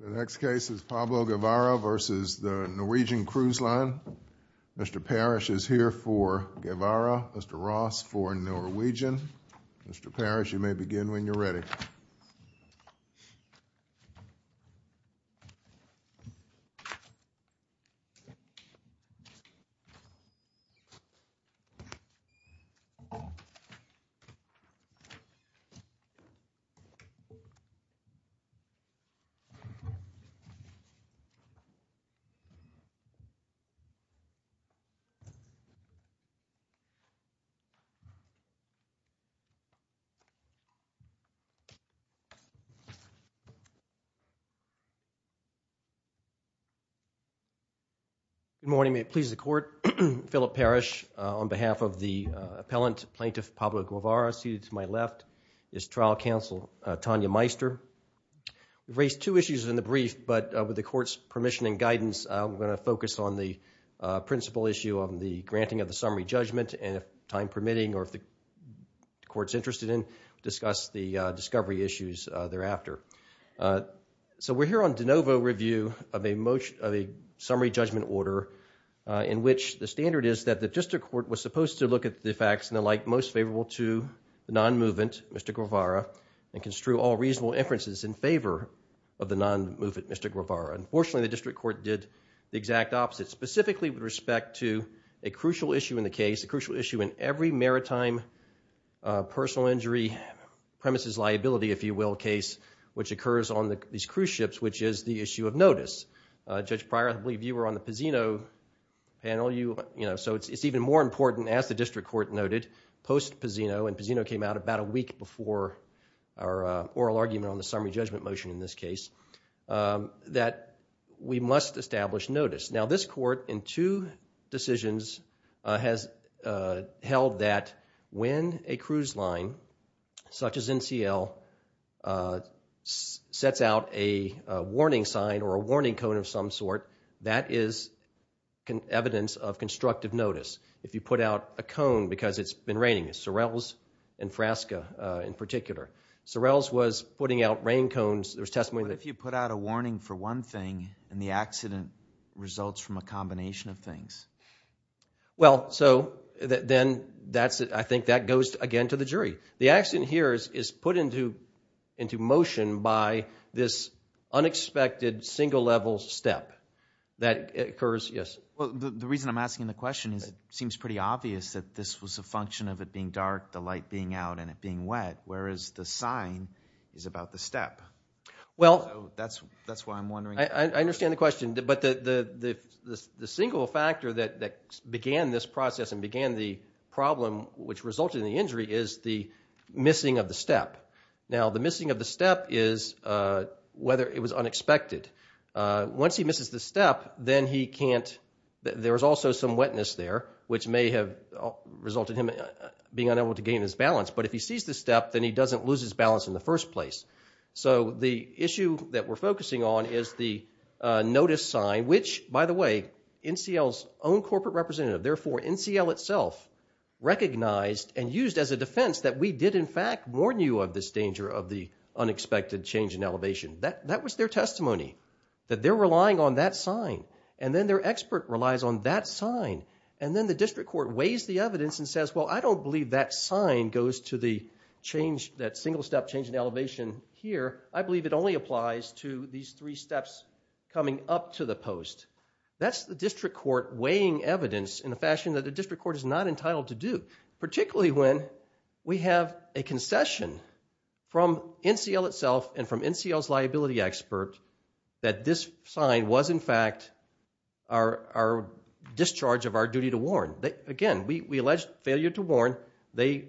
The next case is Pablo Guevara v. NCL. Mr. Parrish is here for Guevara, Mr. Ross for Norwegian. Mr. Parrish, you may begin when you're ready. Good morning, may it please the Court, Philip Parrish, on behalf of the appellant, Plaintiff Pablo Guevara, seated to my left, is Trial Counsel Tanya Meister. We've raised two issues in the brief, but with the Court's permission and guidance, we're going to focus on the principal issue of the granting of the summary judgment, and if time permitting, or if the Court's interested in, discuss the discovery issues thereafter. So we're here on de novo review of a summary judgment order in which the standard is that the District Court was supposed to look at the facts and the like most favorable to the non-movement, Mr. Guevara, and construe all reasonable inferences in favor of the non-movement, Mr. Guevara. Unfortunately, the District Court did the exact opposite, specifically with respect to a crucial issue in the case, a crucial issue in every maritime personal injury premises liability, if you will, case, which occurs on these cruise ships, which is the issue of notice. Judge Pryor, I believe you were on the Pizzino panel, so it's even more important, as the District Court noted, post-Pizzino, and Pizzino came out about a week before our oral argument on the summary judgment motion in this case, that we must establish notice. Now this Court, in two decisions, has held that when a cruise line, such as NCL, sets out a warning sign or a warning cone of some sort, that is evidence of constructive notice. If you put out a cone because it's been raining, Sorrells and Frasca in particular, Sorrells was putting out rain cones, there was testimony that if you put out a warning for one thing and the accident results from a combination of things. Well, so, then, I think that goes again to the jury. The accident here is put into motion by this unexpected single-level step that occurs, yes? Well, the reason I'm asking the question is it seems pretty obvious that this was a function of it being dark, the light being out, and it being wet, whereas the sign is about the step. Well, I understand the question, but the single factor that began this process and began the problem which resulted in the injury is the missing of the step. Now the missing of the step is whether it was unexpected. Once he misses the step, then he can't, there's also some wetness there, which may have resulted in him being unable to gain his balance. But if he sees the step, then he doesn't lose his balance in the first place. So, the issue that we're focusing on is the notice sign, which, by the way, NCL's own corporate representative, therefore NCL itself, recognized and used as a defense that we did, in fact, warn you of this danger of the unexpected change in elevation. That was their testimony, that they're relying on that sign. And then their expert relies on that sign. And then the district court weighs the evidence and says, well, I don't believe that sign goes to the change, that single step change in elevation here. I believe it only applies to these three steps coming up to the post. That's the district court weighing evidence in a fashion that the district court is not entitled to do, particularly when we have a concession from NCL itself and from NCL's liability expert that this sign was, in fact, our discharge of our duty to warn. Again, we alleged failure to warn. They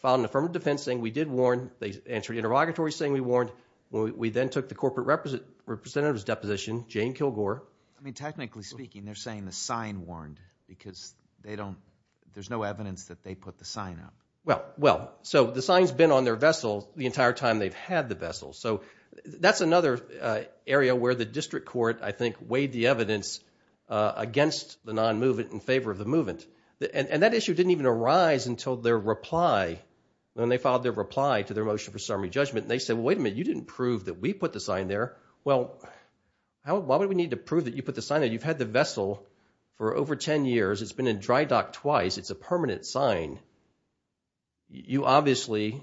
filed an affirmative defense saying we did warn. They answered interrogatory saying we warned. We then took the corporate representative's deposition, Jane Kilgore. I mean, technically speaking, they're saying the sign warned because they don't, there's no evidence that they put the sign up. Well, well, so the sign's been on their vessel the entire time they've had the vessel. So that's another area where the district court, I think, weighed the evidence against the non-movement in favor of the movement. And that issue didn't even arise until their reply, when they filed their reply to their motion for summary judgment, and they said, wait a minute, you didn't prove that we put the sign there. Well, why would we need to prove that you put the sign there? You've had the vessel for over 10 years. It's been in dry dock twice. It's a permanent sign. You obviously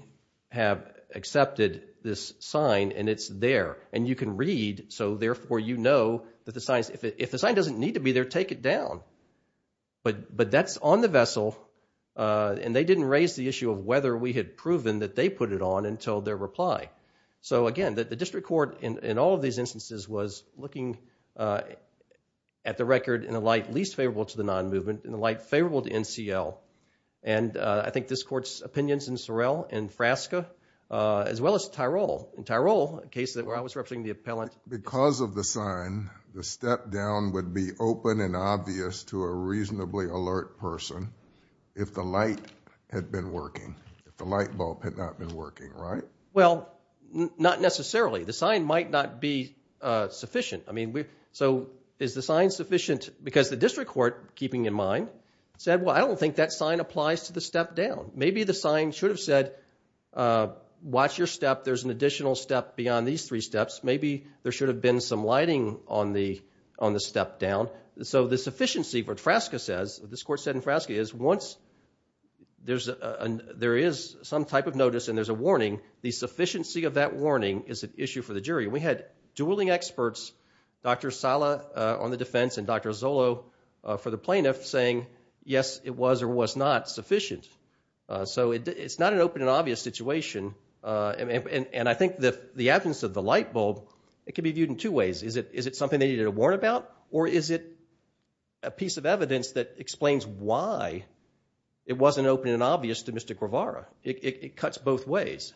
have accepted this sign, and it's there, and you can read, so therefore you know that the sign's, if the sign doesn't need to be there, take it down. But that's on the vessel, and they didn't raise the issue of whether we had proven that they put it on until their reply. So again, the district court, in all of these instances, was looking at the record in a light least favorable to the non-movement, in a light favorable to NCL, and I think this court's opinions in Sorrell, in Frasca, as well as Tyrol. In Tyrol, a case where I was representing the appellant. Because of the sign, the step down would be open and obvious to a reasonably alert person if the light had been working, if the light bulb had not been working, right? Well, not necessarily. The sign might not be sufficient. So is the sign sufficient? Because the district court, keeping in mind, said, well, I don't think that sign applies to the step down. Maybe the sign should have said, watch your step. There's an additional step beyond these three steps. Maybe there should have been some lighting on the step down. So the sufficiency, what Frasca says, what this court said in Frasca, is once there is some type of notice and there's a warning, the sufficiency of that warning is an issue for the jury. We had dueling experts, Dr. Sala on the defense and Dr. Zollo for the plaintiff, saying, yes, it was or was not sufficient. So it's not an open and obvious situation. And I think the absence of the light bulb, it can be viewed in two ways. Is it something they needed to warn about? Or is it a piece of evidence that explains why it wasn't open and obvious to Mr. Guevara? It cuts both ways.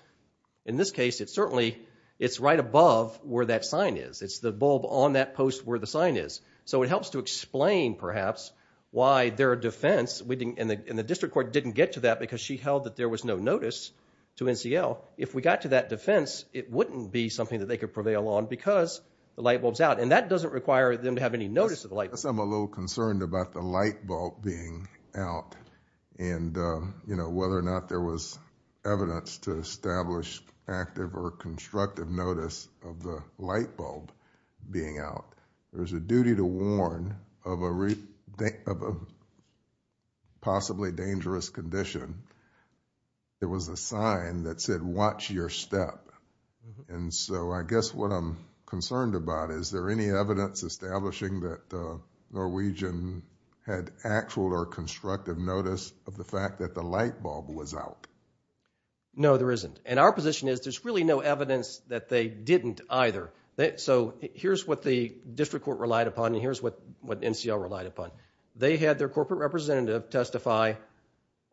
In this case, it's certainly, it's right above where that sign is. It's the bulb on that post where the sign is. So it helps to explain, perhaps, why their defense, and the district court didn't get to that because she held that there was no notice to NCL. If we got to that defense, it wouldn't be something that they could prevail on because the light bulb's out. And that doesn't require them to have any notice of the light bulb. I guess I'm a little concerned about the light bulb being out and, you know, whether or not there was evidence to establish active or constructive notice of the light bulb being out. There's a duty to warn of a possibly dangerous condition. It was a sign that said, watch your step. And so I guess what I'm concerned about, is there any evidence establishing that Norwegian had actual or constructive notice of the fact that the light bulb was out? No, there isn't. And our position is there's really no evidence that they didn't either. So here's what the district court relied upon, and here's what NCL relied upon. They had their corporate representative testify.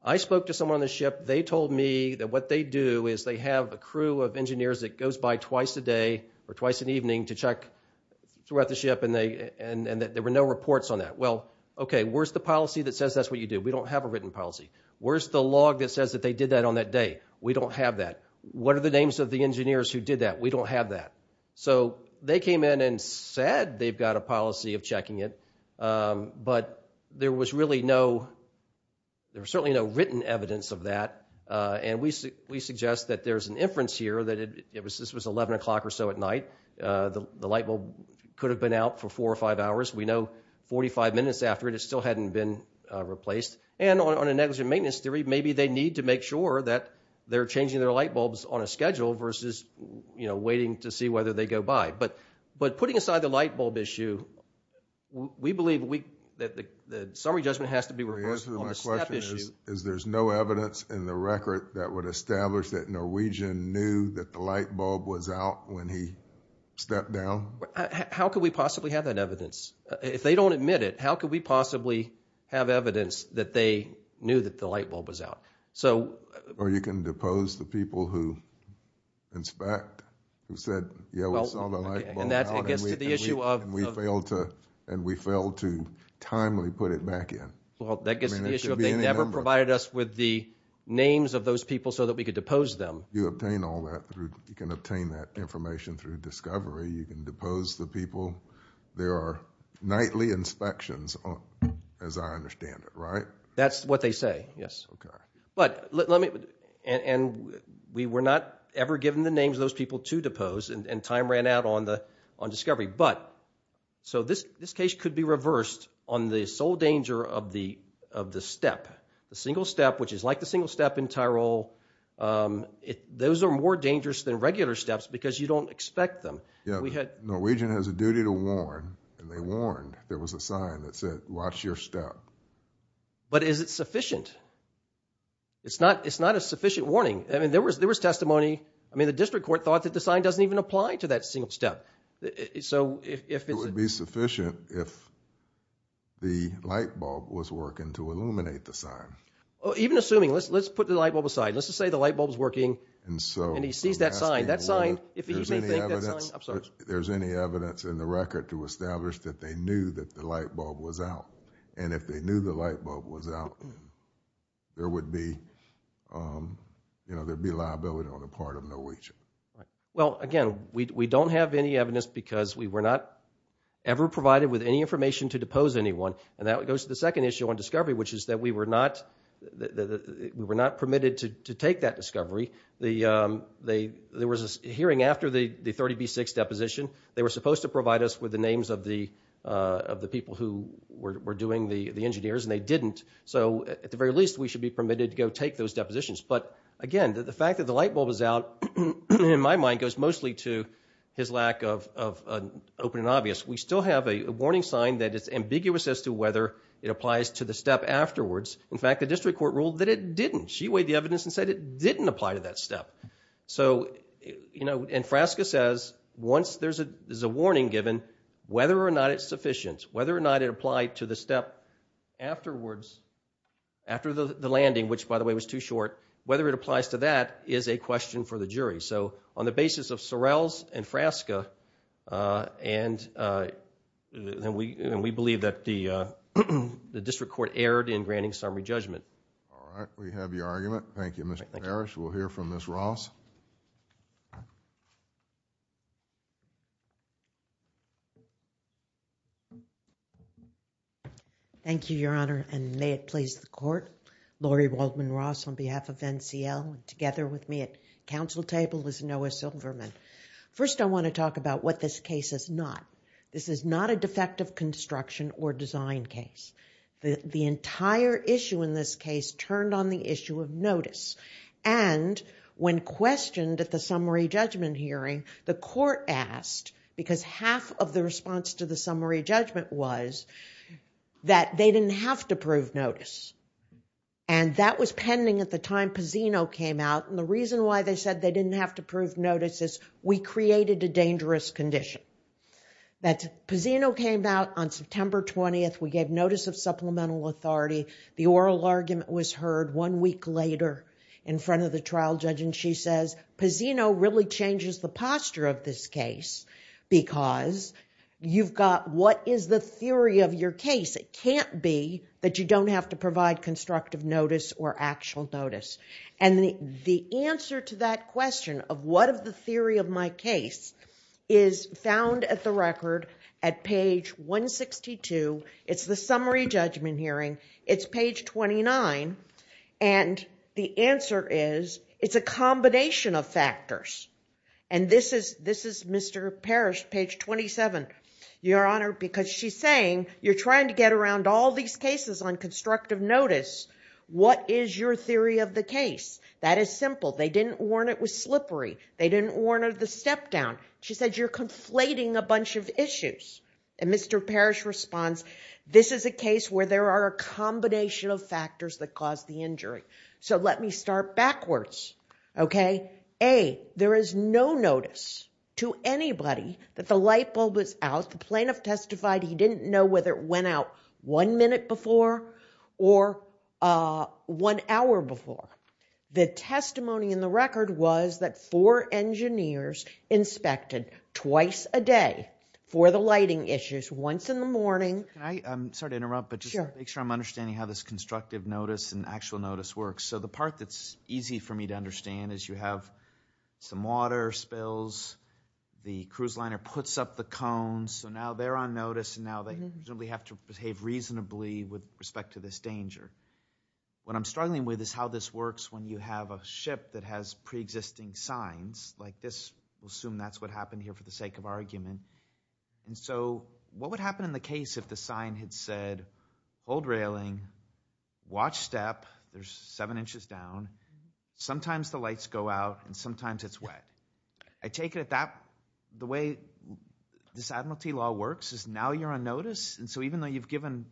I spoke to someone on the ship. They told me that what they do is they have a crew of engineers that goes by twice a day or twice an evening to check throughout the ship, and there were no reports on that. Well, okay, where's the policy that says that's what you do? We don't have a written policy. Where's the log that says that they did that on that day? We don't have that. What are the names of the engineers who did that? We don't have that. So they came in and said they've got a policy of checking it, but there was really no, there was certainly no written evidence of that, and we suggest that there's an inference here that this was 11 o'clock or so at night. The light bulb could have been out for four or five hours. We know 45 minutes after it, it still hadn't been replaced. And on a negligent maintenance theory, maybe they need to make sure that they're changing their light bulbs on a schedule versus, you know, waiting to see whether they go by. But putting aside the light bulb issue, we believe that the summary judgment has to be reversed on a step issue. So the answer to my question is there's no evidence in the record that would establish that Norwegian knew that the light bulb was out when he stepped down? How could we possibly have that evidence? If they don't admit it, how could we possibly have evidence that they knew that the light bulb was out? So... Or you can depose the people who inspect, who said, yeah, we saw the light bulb out and we failed to, and we failed to timely put it back in. Well, that gets to the issue of they never provided us with the names of those people so that we could depose them. You obtain all that, you can obtain that information through discovery, you can depose the people. There are nightly inspections, as I understand it, right? That's what they say, yes. But let me, and we were not ever given the names of those people to depose, and time ran out on discovery. But, so this case could be reversed on the sole danger of the step, the single step, which is like the single step in Tyrol. Those are more dangerous than regular steps because you don't expect them. We had... Norwegian has a duty to warn, and they warned, there was a sign that said, watch your step. But is it sufficient? It's not, it's not a sufficient warning. I mean, there was, there was testimony, I mean, the district court thought that the sign doesn't even apply to that single step. So if it's... It would be sufficient if the light bulb was working to illuminate the sign. Even assuming, let's, let's put the light bulb aside, let's just say the light bulb is working, and he sees that sign, that sign, if he may think that sign, I'm sorry. There's any evidence in the record to establish that they knew that the light bulb was out, and if they knew the light bulb was out, there would be, you know, there'd be liability on the part of Norwegian. Right. Well, again, we don't have any evidence because we were not ever provided with any information to depose anyone, and that goes to the second issue on discovery, which is that we were not, we were not permitted to take that discovery. The, there was a hearing after the 30B6 deposition. They were supposed to provide us with the names of the, of the people who were doing the engineers, and they didn't, so at the very least, we should be permitted to go take those depositions. But again, the fact that the light bulb is out, in my mind, goes mostly to his lack of an open and obvious. We still have a warning sign that it's ambiguous as to whether it applies to the step afterwards. In fact, the district court ruled that it didn't. She weighed the evidence and said it didn't apply to that step. So, you know, and Frasca says, once there's a, there's a warning given, whether or not it's sufficient, whether or not it applied to the step afterwards, after the landing, which by the way was too short, whether it applies to that is a question for the jury. So on the basis of Sorrell's and Frasca, and we, and we believe that the district court erred in granting summary judgment. All right. We have your argument. Thank you, Mr. Parrish. We'll hear from Ms. Ross. Thank you, Your Honor, and may it please the court, Laurie Waldman Ross on behalf of NCL, together with me at council table is Noah Silverman. First I want to talk about what this case is not. This is not a defective construction or design case. The entire issue in this case turned on the issue of notice. And when questioned at the summary judgment hearing, the court asked, because half of the response to the summary judgment was that they didn't have to prove notice. And that was pending at the time Pazino came out, and the reason why they said they didn't have to prove notice is we created a dangerous condition. That Pazino came out on September 20th. We gave notice of supplemental authority. The oral argument was heard one week later in front of the trial judge, and she says, Pazino really changes the posture of this case because you've got what is the theory of your case. It can't be that you don't have to provide constructive notice or actual notice. And the answer to that question of what is the theory of my case is found at the record at page 162. It's the summary judgment hearing. It's page 29. And the answer is, it's a combination of factors. And this is Mr. Parrish, page 27, Your Honor, because she's saying, you're trying to get a case. That is simple. They didn't warn it was slippery. They didn't warn of the step-down. She said, you're conflating a bunch of issues. And Mr. Parrish responds, this is a case where there are a combination of factors that caused the injury. So let me start backwards, okay? A, there is no notice to anybody that the light bulb was out. The plaintiff testified he didn't know whether it went out one minute before or one hour before. The testimony in the record was that four engineers inspected twice a day for the lighting issues once in the morning. Can I, I'm sorry to interrupt, but just to make sure I'm understanding how this constructive notice and actual notice works. So the part that's easy for me to understand is you have some water spills, the cruise liner puts up the cones, so now they're on notice and now they have to behave reasonably with respect to this danger. What I'm struggling with is how this works when you have a ship that has pre-existing signs like this, we'll assume that's what happened here for the sake of argument. And so what would happen in the case if the sign had said, hold railing, watch step, there's seven inches down, sometimes the lights go out and sometimes it's wet. I take it that the way this admiralty law works is now you're on notice and so even though you've given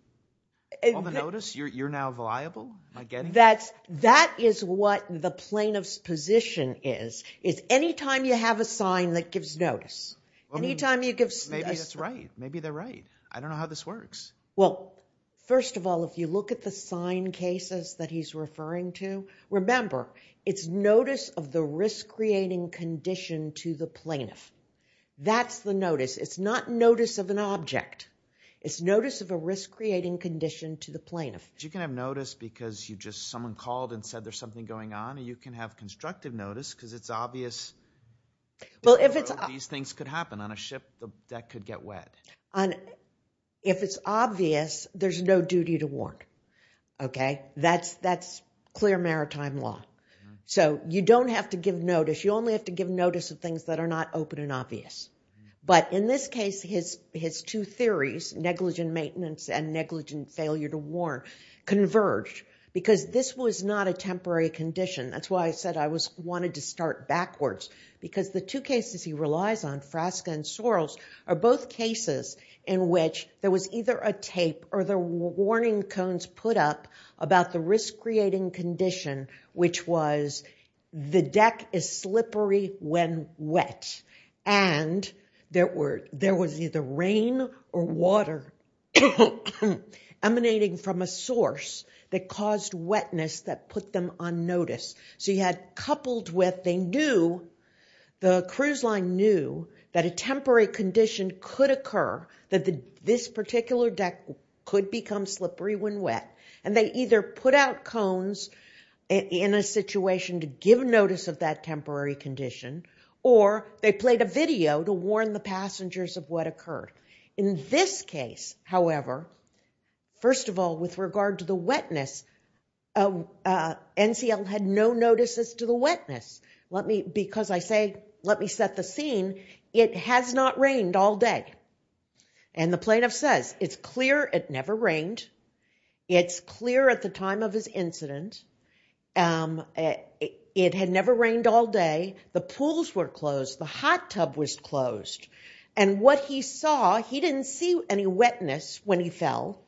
all the notice, you're now liable? That is what the plaintiff's position is, is anytime you have a sign that gives notice, anytime you give... Maybe that's right. Maybe they're right. I don't know how this works. Well, first of all, if you look at the sign cases that he's referring to, remember it's notice of the risk creating condition to the plaintiff. That's the notice. It's not notice of an object. It's notice of a risk creating condition to the plaintiff. You can have notice because you just... Someone called and said there's something going on and you can have constructive notice because it's obvious these things could happen on a ship that could get wet. If it's obvious, there's no duty to warn, okay? That's clear maritime law. So you don't have to give notice. You only have to give notice of things that are not open and obvious. But in this case, his two theories, negligent maintenance and negligent failure to warn, converged because this was not a temporary condition. That's why I said I wanted to start backwards because the two cases he relies on, Frasca and Sorrels, are both cases in which there was either a tape or the warning cones put up about the risk creating condition, which was the deck is slippery when wet. And there was either rain or water emanating from a source that caused wetness that put them on notice. So you had coupled with, they knew, the cruise line knew that a temporary condition could occur, that this particular deck could become slippery when wet, and they either put out cones in a situation to give notice of that temporary condition, or they played a video to warn the passengers of what occurred. In this case, however, first of all, with regard to the wetness, NCL had no notices to the wetness. Let me, because I say, let me set the scene, it has not rained all day. And the plaintiff says, it's clear it never rained, it's clear at the time of his incident, it had never rained all day, the pools were closed, the hot tub was closed. And what he saw, he didn't see any wetness when he fell.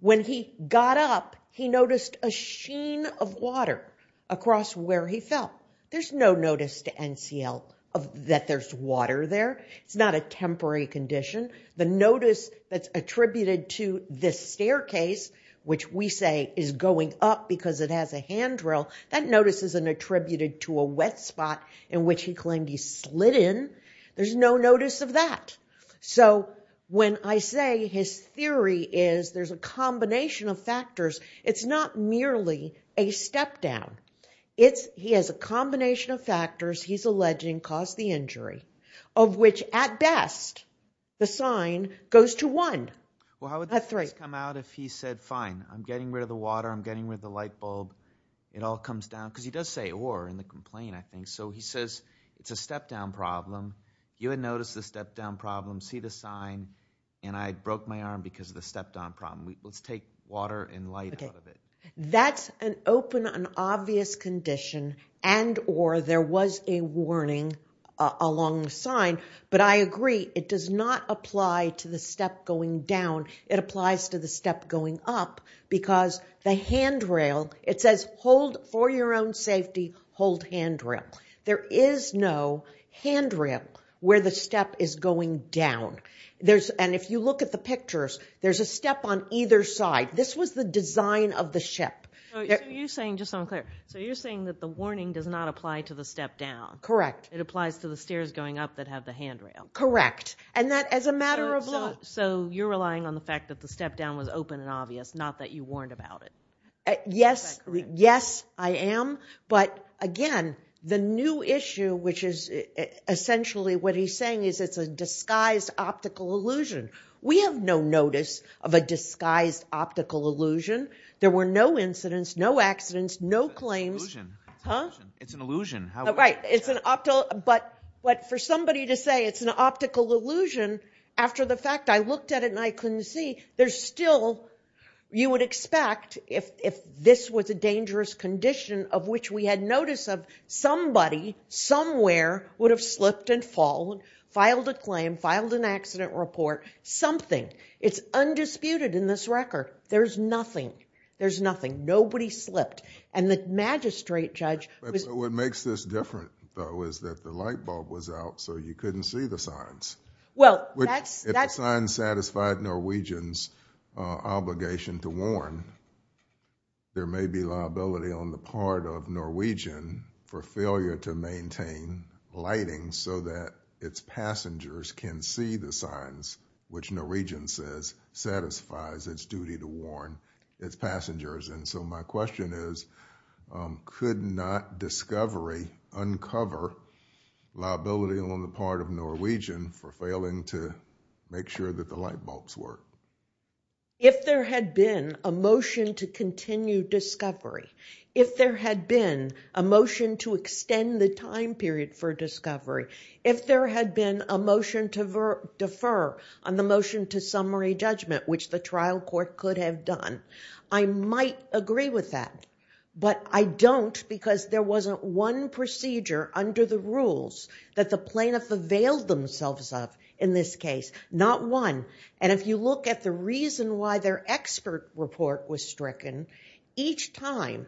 When he got up, he noticed a sheen of water across where he fell. There's no notice to NCL that there's water there. It's not a temporary condition. The notice that's attributed to this staircase, which we say is going up because it has a handrail, that notice isn't attributed to a wet spot in which he claimed he slid in. There's no notice of that. So when I say his theory is there's a combination of factors, it's not merely a step down. It's, he has a combination of factors he's alleging caused the injury, of which at best, the sign goes to one, not three. Well, how would this come out if he said, fine, I'm getting rid of the water, I'm getting rid of the light bulb, it all comes down, because he does say or in the complaint, I think. So he says, it's a step down problem. You had noticed the step down problem, see the sign, and I broke my arm because of the step down problem. Let's take water and light out of it. That's an open and obvious condition and or there was a warning along the sign. But I agree, it does not apply to the step going down, it applies to the step going up because the handrail, it says, hold for your own safety, hold handrail. There is no handrail where the step is going down. And if you look at the pictures, there's a step on either side. This was the design of the ship. So you're saying, just so I'm clear, so you're saying that the warning does not apply to the step down. Correct. It applies to the stairs going up that have the handrail. Correct. And that as a matter of law. So you're relying on the fact that the step down was open and obvious, not that you warned about it. Yes, yes, I am. But again, the new issue, which is essentially what he's saying is it's a disguised optical illusion. We have no notice of a disguised optical illusion. There were no incidents, no accidents, no claims. It's an illusion. But for somebody to say it's an optical illusion after the fact, I looked at it and I couldn't see. There's still, you would expect if this was a dangerous condition of which we had notice of, somebody, somewhere would have slipped and fallen, filed a claim, filed an accident report, something. It's undisputed in this record. There's nothing. There's nothing. Nobody slipped. And the magistrate judge... But what makes this different though is that the light bulb was out so you couldn't see the signs. Well, that's... If the signs satisfied Norwegian's obligation to warn, there may be liability on the part of Norwegian for failure to maintain lighting so that its passengers can see the signs, which Norwegian says satisfies its duty to warn its passengers. And so my question is, could not discovery uncover liability on the part of Norwegian for failing to make sure that the light bulbs work? If there had been a motion to continue discovery, if there had been a motion to extend the time period for discovery, if there had been a motion to defer on the motion to summary judgment, which the trial court could have done, I might agree with that. But I don't because there wasn't one procedure under the rules that the plaintiff availed themselves of in this case. Not one. And if you look at the reason why their expert report was stricken, each time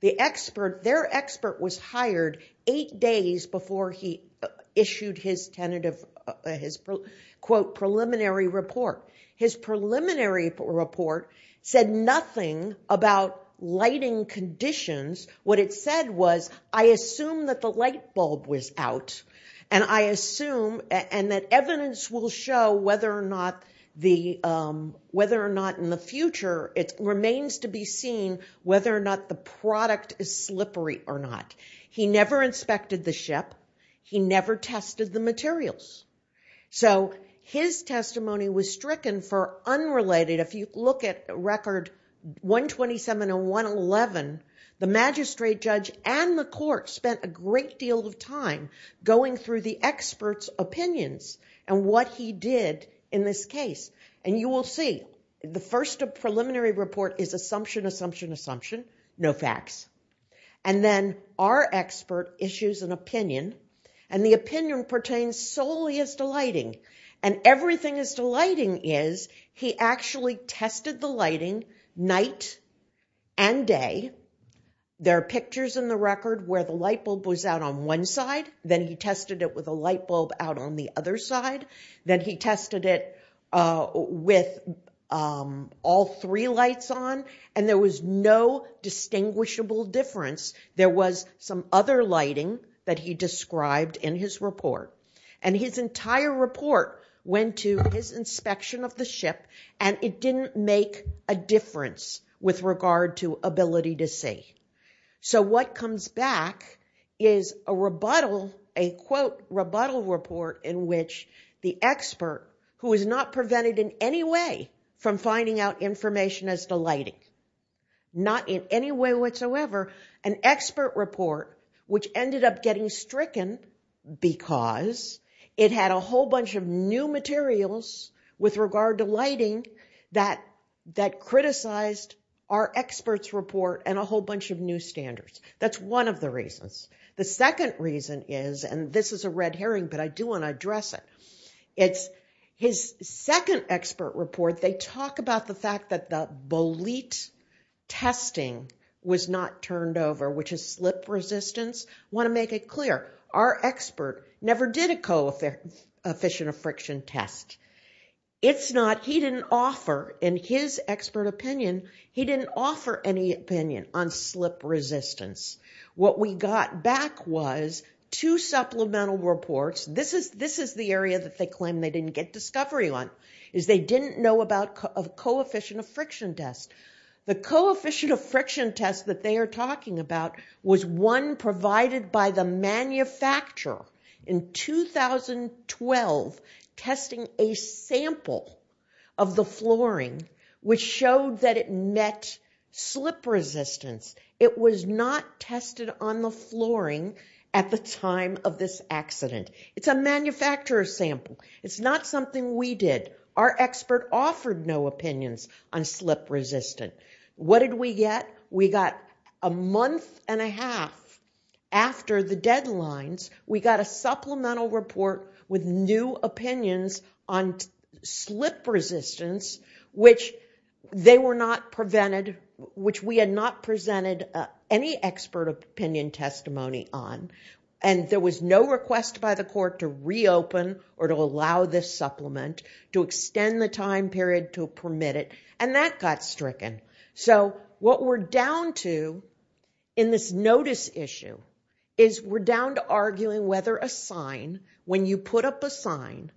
the expert, their expert was hired eight days before he issued his tentative, quote, preliminary report. His preliminary report said nothing about lighting conditions. What it said was, I assume that the light bulb was out and I assume... and that evidence will show whether or not in the future, it remains to be seen whether or not the product is slippery or not. He never inspected the ship. He never tested the materials. So his testimony was stricken for unrelated. If you look at record 127 and 111, the magistrate judge and the court spent a great deal of going through the expert's opinions and what he did in this case. And you will see, the first preliminary report is assumption, assumption, assumption, no facts. And then our expert issues an opinion and the opinion pertains solely as to lighting. And everything as to lighting is, he actually tested the lighting night and day. There are pictures in the record where the light bulb was out on one side, then he tested it with a light bulb out on the other side, then he tested it with all three lights on and there was no distinguishable difference. There was some other lighting that he described in his report. And his entire report went to his inspection of the ship and it didn't make a difference with regard to ability to see. So what comes back is a rebuttal, a quote, rebuttal report in which the expert, who is not prevented in any way from finding out information as to lighting, not in any way whatsoever, an expert report which ended up getting stricken because it had a whole bunch of new materials with regard to lighting that criticized our expert's report and a whole bunch of new standards. That's one of the reasons. The second reason is, and this is a red herring but I do want to address it, it's his second expert report, they talk about the fact that the bolete testing was not turned over, which is slip resistance. I just want to make it clear, our expert never did a coefficient of friction test. It's not, he didn't offer, in his expert opinion, he didn't offer any opinion on slip resistance. What we got back was two supplemental reports, this is the area that they claim they didn't get discovery on, is they didn't know about a coefficient of friction test. The coefficient of friction test that they are talking about was one provided by the manufacturer in 2012 testing a sample of the flooring which showed that it met slip resistance. It was not tested on the flooring at the time of this accident. It's a manufacturer's sample. It's not something we did. Our expert offered no opinions on slip resistance. What did we get? We got a month and a half after the deadlines, we got a supplemental report with new opinions on slip resistance, which they were not prevented, which we had not presented any expert opinion testimony on, and there was no request by the court to reopen or to allow this supplement to extend the time period to permit it, and that got stricken. So what we're down to in this notice issue is we're down to arguing whether a sign, when you put up a sign,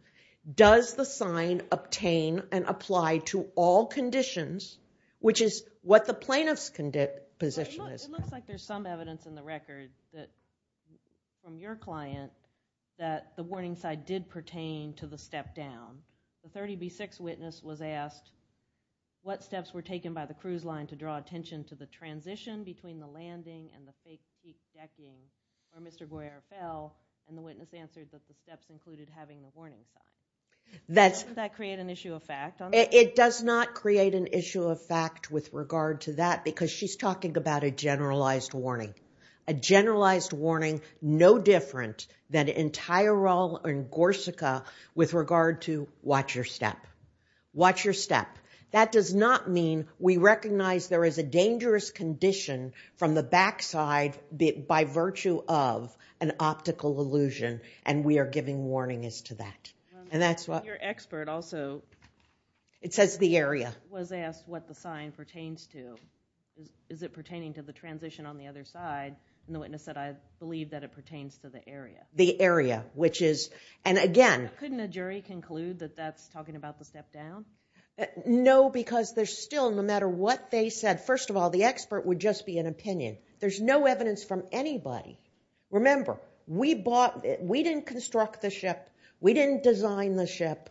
does the sign obtain and apply to all conditions, which is what the plaintiff's position is. It looks like there's some evidence in the record that, from your client, that the warning sign did pertain to the step down. The 30B6 witness was asked, what steps were taken by the cruise line to draw attention to the transition between the landing and the fake steep decking where Mr. Boyer fell, and the witness answered that the steps included having the warning sign. Doesn't that create an issue of fact? It does not create an issue of fact with regard to that because she's talking about a generalized warning. A generalized warning, no different than in Tyrol and Gorsuch with regard to watch your step. Watch your step. That does not mean we recognize there is a dangerous condition from the backside by virtue of an optical illusion, and we are giving warnings to that. And that's what- Your expert also- It says the area. Was asked what the sign pertains to. Is it pertaining to the transition on the other side, and the witness said, I believe that it pertains to the area. The area, which is, and again- Couldn't a jury conclude that that's talking about the step down? No, because there's still, no matter what they said, first of all, the expert would just be an opinion. There's no evidence from anybody. Remember, we didn't construct the ship. We didn't design the ship.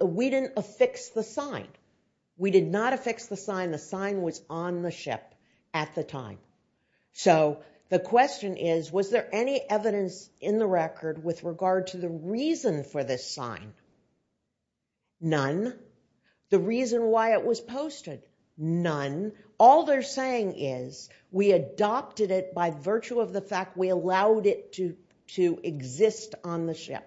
We didn't affix the sign. We did not affix the sign. The sign was on the ship at the time. So the question is, was there any evidence in the record with regard to the reason for this sign? None. The reason why it was posted? None. All they're saying is, we adopted it by virtue of the fact we allowed it to exist on the ship.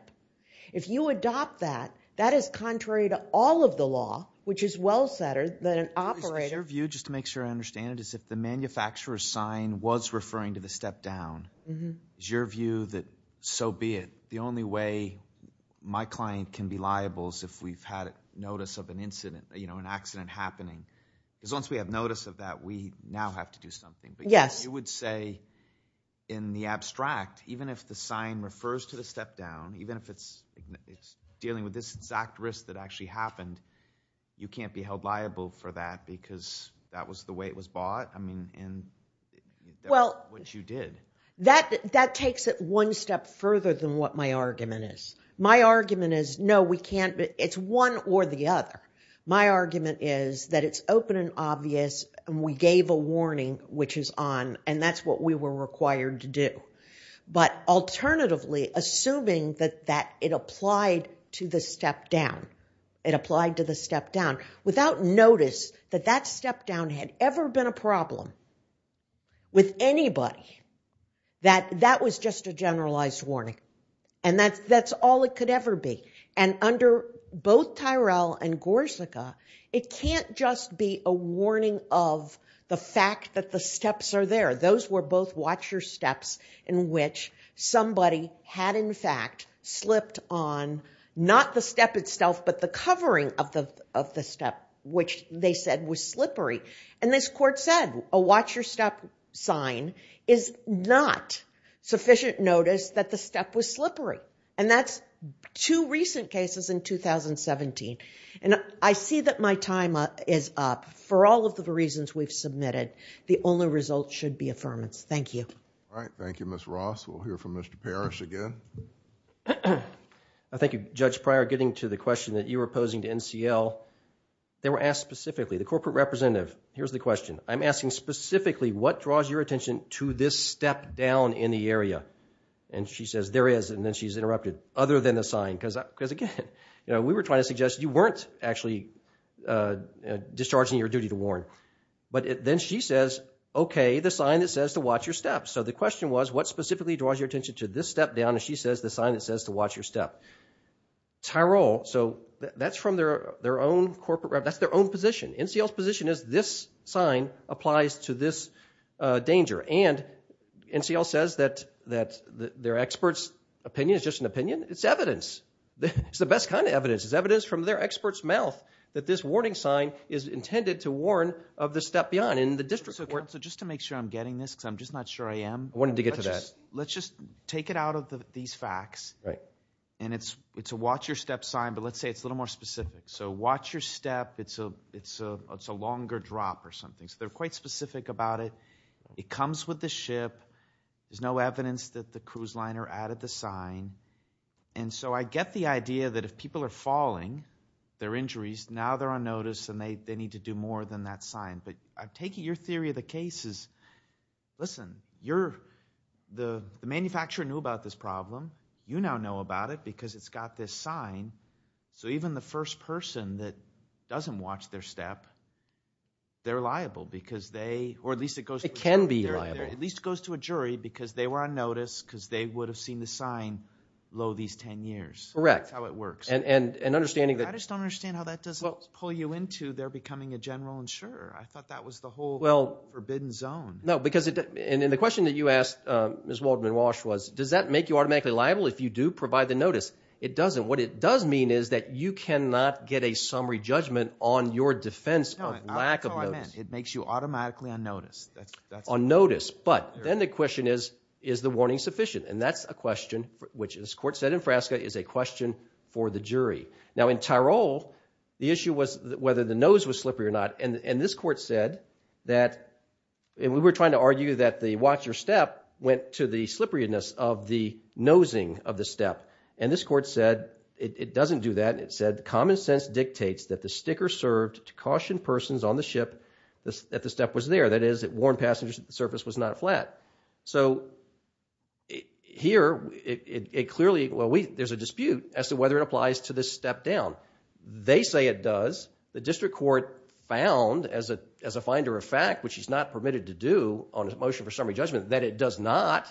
If you adopt that, that is contrary to all of the law, which is well-centered, that an operator- Your view, just to make sure I understand it, is if the manufacturer's sign was referring to the step down, is your view that, so be it? The only way my client can be liable is if we've had notice of an incident, an accident happening. Because once we have notice of that, we now have to do something. Yes. You would say, in the abstract, even if the sign refers to the step down, even if it's dealing with this exact risk that actually happened, you can't be held liable for that because that was the way it was bought, and that's what you did. That takes it one step further than what my argument is. My argument is, no, we can't, it's one or the other. My argument is that it's open and obvious, and we gave a warning, which is on, and that's what we were required to do. But alternatively, assuming that it applied to the step down, it applied to the step down, without notice that that step down had ever been a problem with anybody, that that was just a generalized warning. And that's all it could ever be. And under both Tyrell and Gorsica, it can't just be a warning of the fact that the steps are there. Those were both watch your steps in which somebody had, in fact, slipped on, not the step itself, but the covering of the step, which they said was slippery. And this court said, a watch your step sign is not sufficient notice that the step was slippery. And that's two recent cases in 2017. And I see that my time is up. For all of the reasons we've submitted, the only result should be affirmance. Thank you. All right. Thank you, Ms. Ross. We'll hear from Mr. Parrish again. Thank you, Judge Pryor. Getting to the question that you were posing to NCL, they were asked specifically, the corporate representative. Here's the question. I'm asking specifically, what draws your attention to this step down in the area? And she says, there is. And then she's interrupted. Other than the sign. Because, again, we were trying to suggest you weren't actually discharging your duty to warn. But then she says, OK, the sign that says to watch your steps. So the question was, what specifically draws your attention to this step down? And she says, the sign that says to watch your step. Tyrol. So that's from their own corporate rep. That's their own position. NCL's position is, this sign applies to this danger. And NCL says that their experts' opinion is just an opinion. It's evidence. It's the best kind of evidence. It's evidence from their experts' mouth that this warning sign is intended to warn of the step beyond. And the district court. So just to make sure I'm getting this, because I'm just not sure I am. I wanted to get to that. Let's just take it out of these facts. And it's a watch your step sign, but let's say it's a little more specific. So watch your step, it's a longer drop or something. So they're quite specific about it. It comes with the ship. There's no evidence that the cruise liner added the sign. And so I get the idea that if people are falling, they're injuries, now they're on notice and they need to do more than that sign. But I take it your theory of the case is, listen, the manufacturer knew about this problem. You now know about it because it's got this sign. So even the first person that doesn't watch their step, they're liable because they, or at least it goes to a jury. It can be liable. At least it goes to a jury because they were on notice because they would have seen the sign low these 10 years. Correct. That's how it works. And understanding that. I just don't understand how that doesn't pull you into their becoming a general insurer. I thought that was the whole forbidden zone. No, because, and the question that you asked Ms. Waldman-Walsh was, does that make you automatically liable if you do provide the notice? It doesn't. What it does mean is that you cannot get a summary judgment on your defense of lack of notice. No, that's not what I meant. It makes you automatically on notice. On notice. But then the question is, is the warning sufficient? And that's a question, which as court said in Frasca, is a question for the jury. Now in Tyrol, the issue was whether the nose was slippery or not. And this court said that, and we were trying to argue that the watch your step went to the slipperiness of the nosing of the step. And this court said it doesn't do that. It said common sense dictates that the sticker served to caution persons on the ship that the step was there. That is, it warned passengers that the surface was not flat. So here, it clearly, well, there's a dispute as to whether it applies to this step down. They say it does. The district court found, as a finder of fact, which is not permitted to do on a motion for summary judgment, that it does not.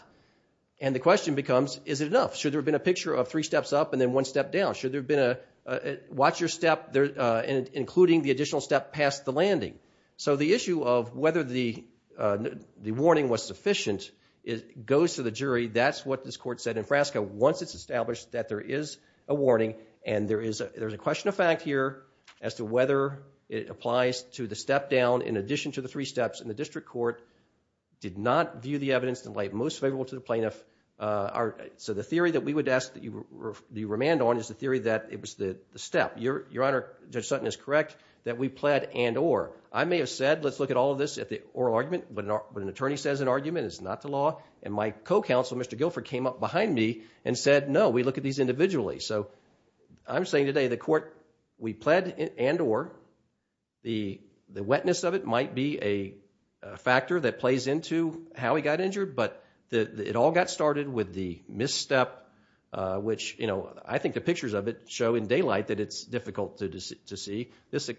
And the question becomes, is it enough? Should there have been a picture of three steps up and then one step down? Should there have been a watch your step, including the additional step past the landing? So the issue of whether the warning was sufficient goes to the jury. That's what this court said in Frasca. Once it's established that there is a warning and there's a question of fact here as to whether it applies to the step down in addition to the three steps, and the district court did not view the evidence to lay it most favorable to the plaintiff. So the theory that we would ask that you remand on is the theory that it was the step. Your Honor, Judge Sutton is correct that we pled and or. I may have said, let's look at all of this at the oral argument, but when an attorney says an argument, it's not the law. And my co-counsel, Mr. Guilford, came up behind me and said, no, we look at these individually. So I'm saying today the court, we pled and or. The wetness of it might be a factor that plays into how he got injured, but it all got started with the misstep, which I think the pictures of it show in daylight that it's difficult to see. This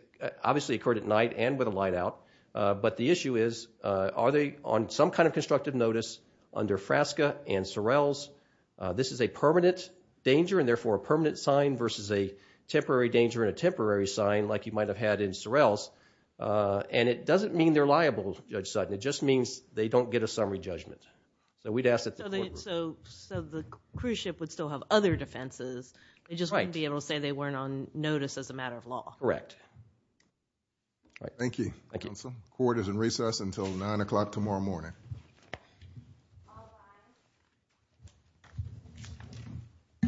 obviously occurred at night and with a light out. But the issue is, are they on some kind of constructive notice under Frasca and Sorrell's? This is a permanent danger, and therefore a permanent sign versus a temporary danger and a temporary sign like you might have had in Sorrell's. And it doesn't mean they're liable, Judge Sutton, it just means they don't get a summary judgment. So we'd ask that the court would. So the cruise ship would still have other defenses, they just wouldn't be able to say they weren't on notice as a matter of law. Correct. Thank you, counsel. The court is in recess until 9 o'clock tomorrow morning. Thank you. All rise.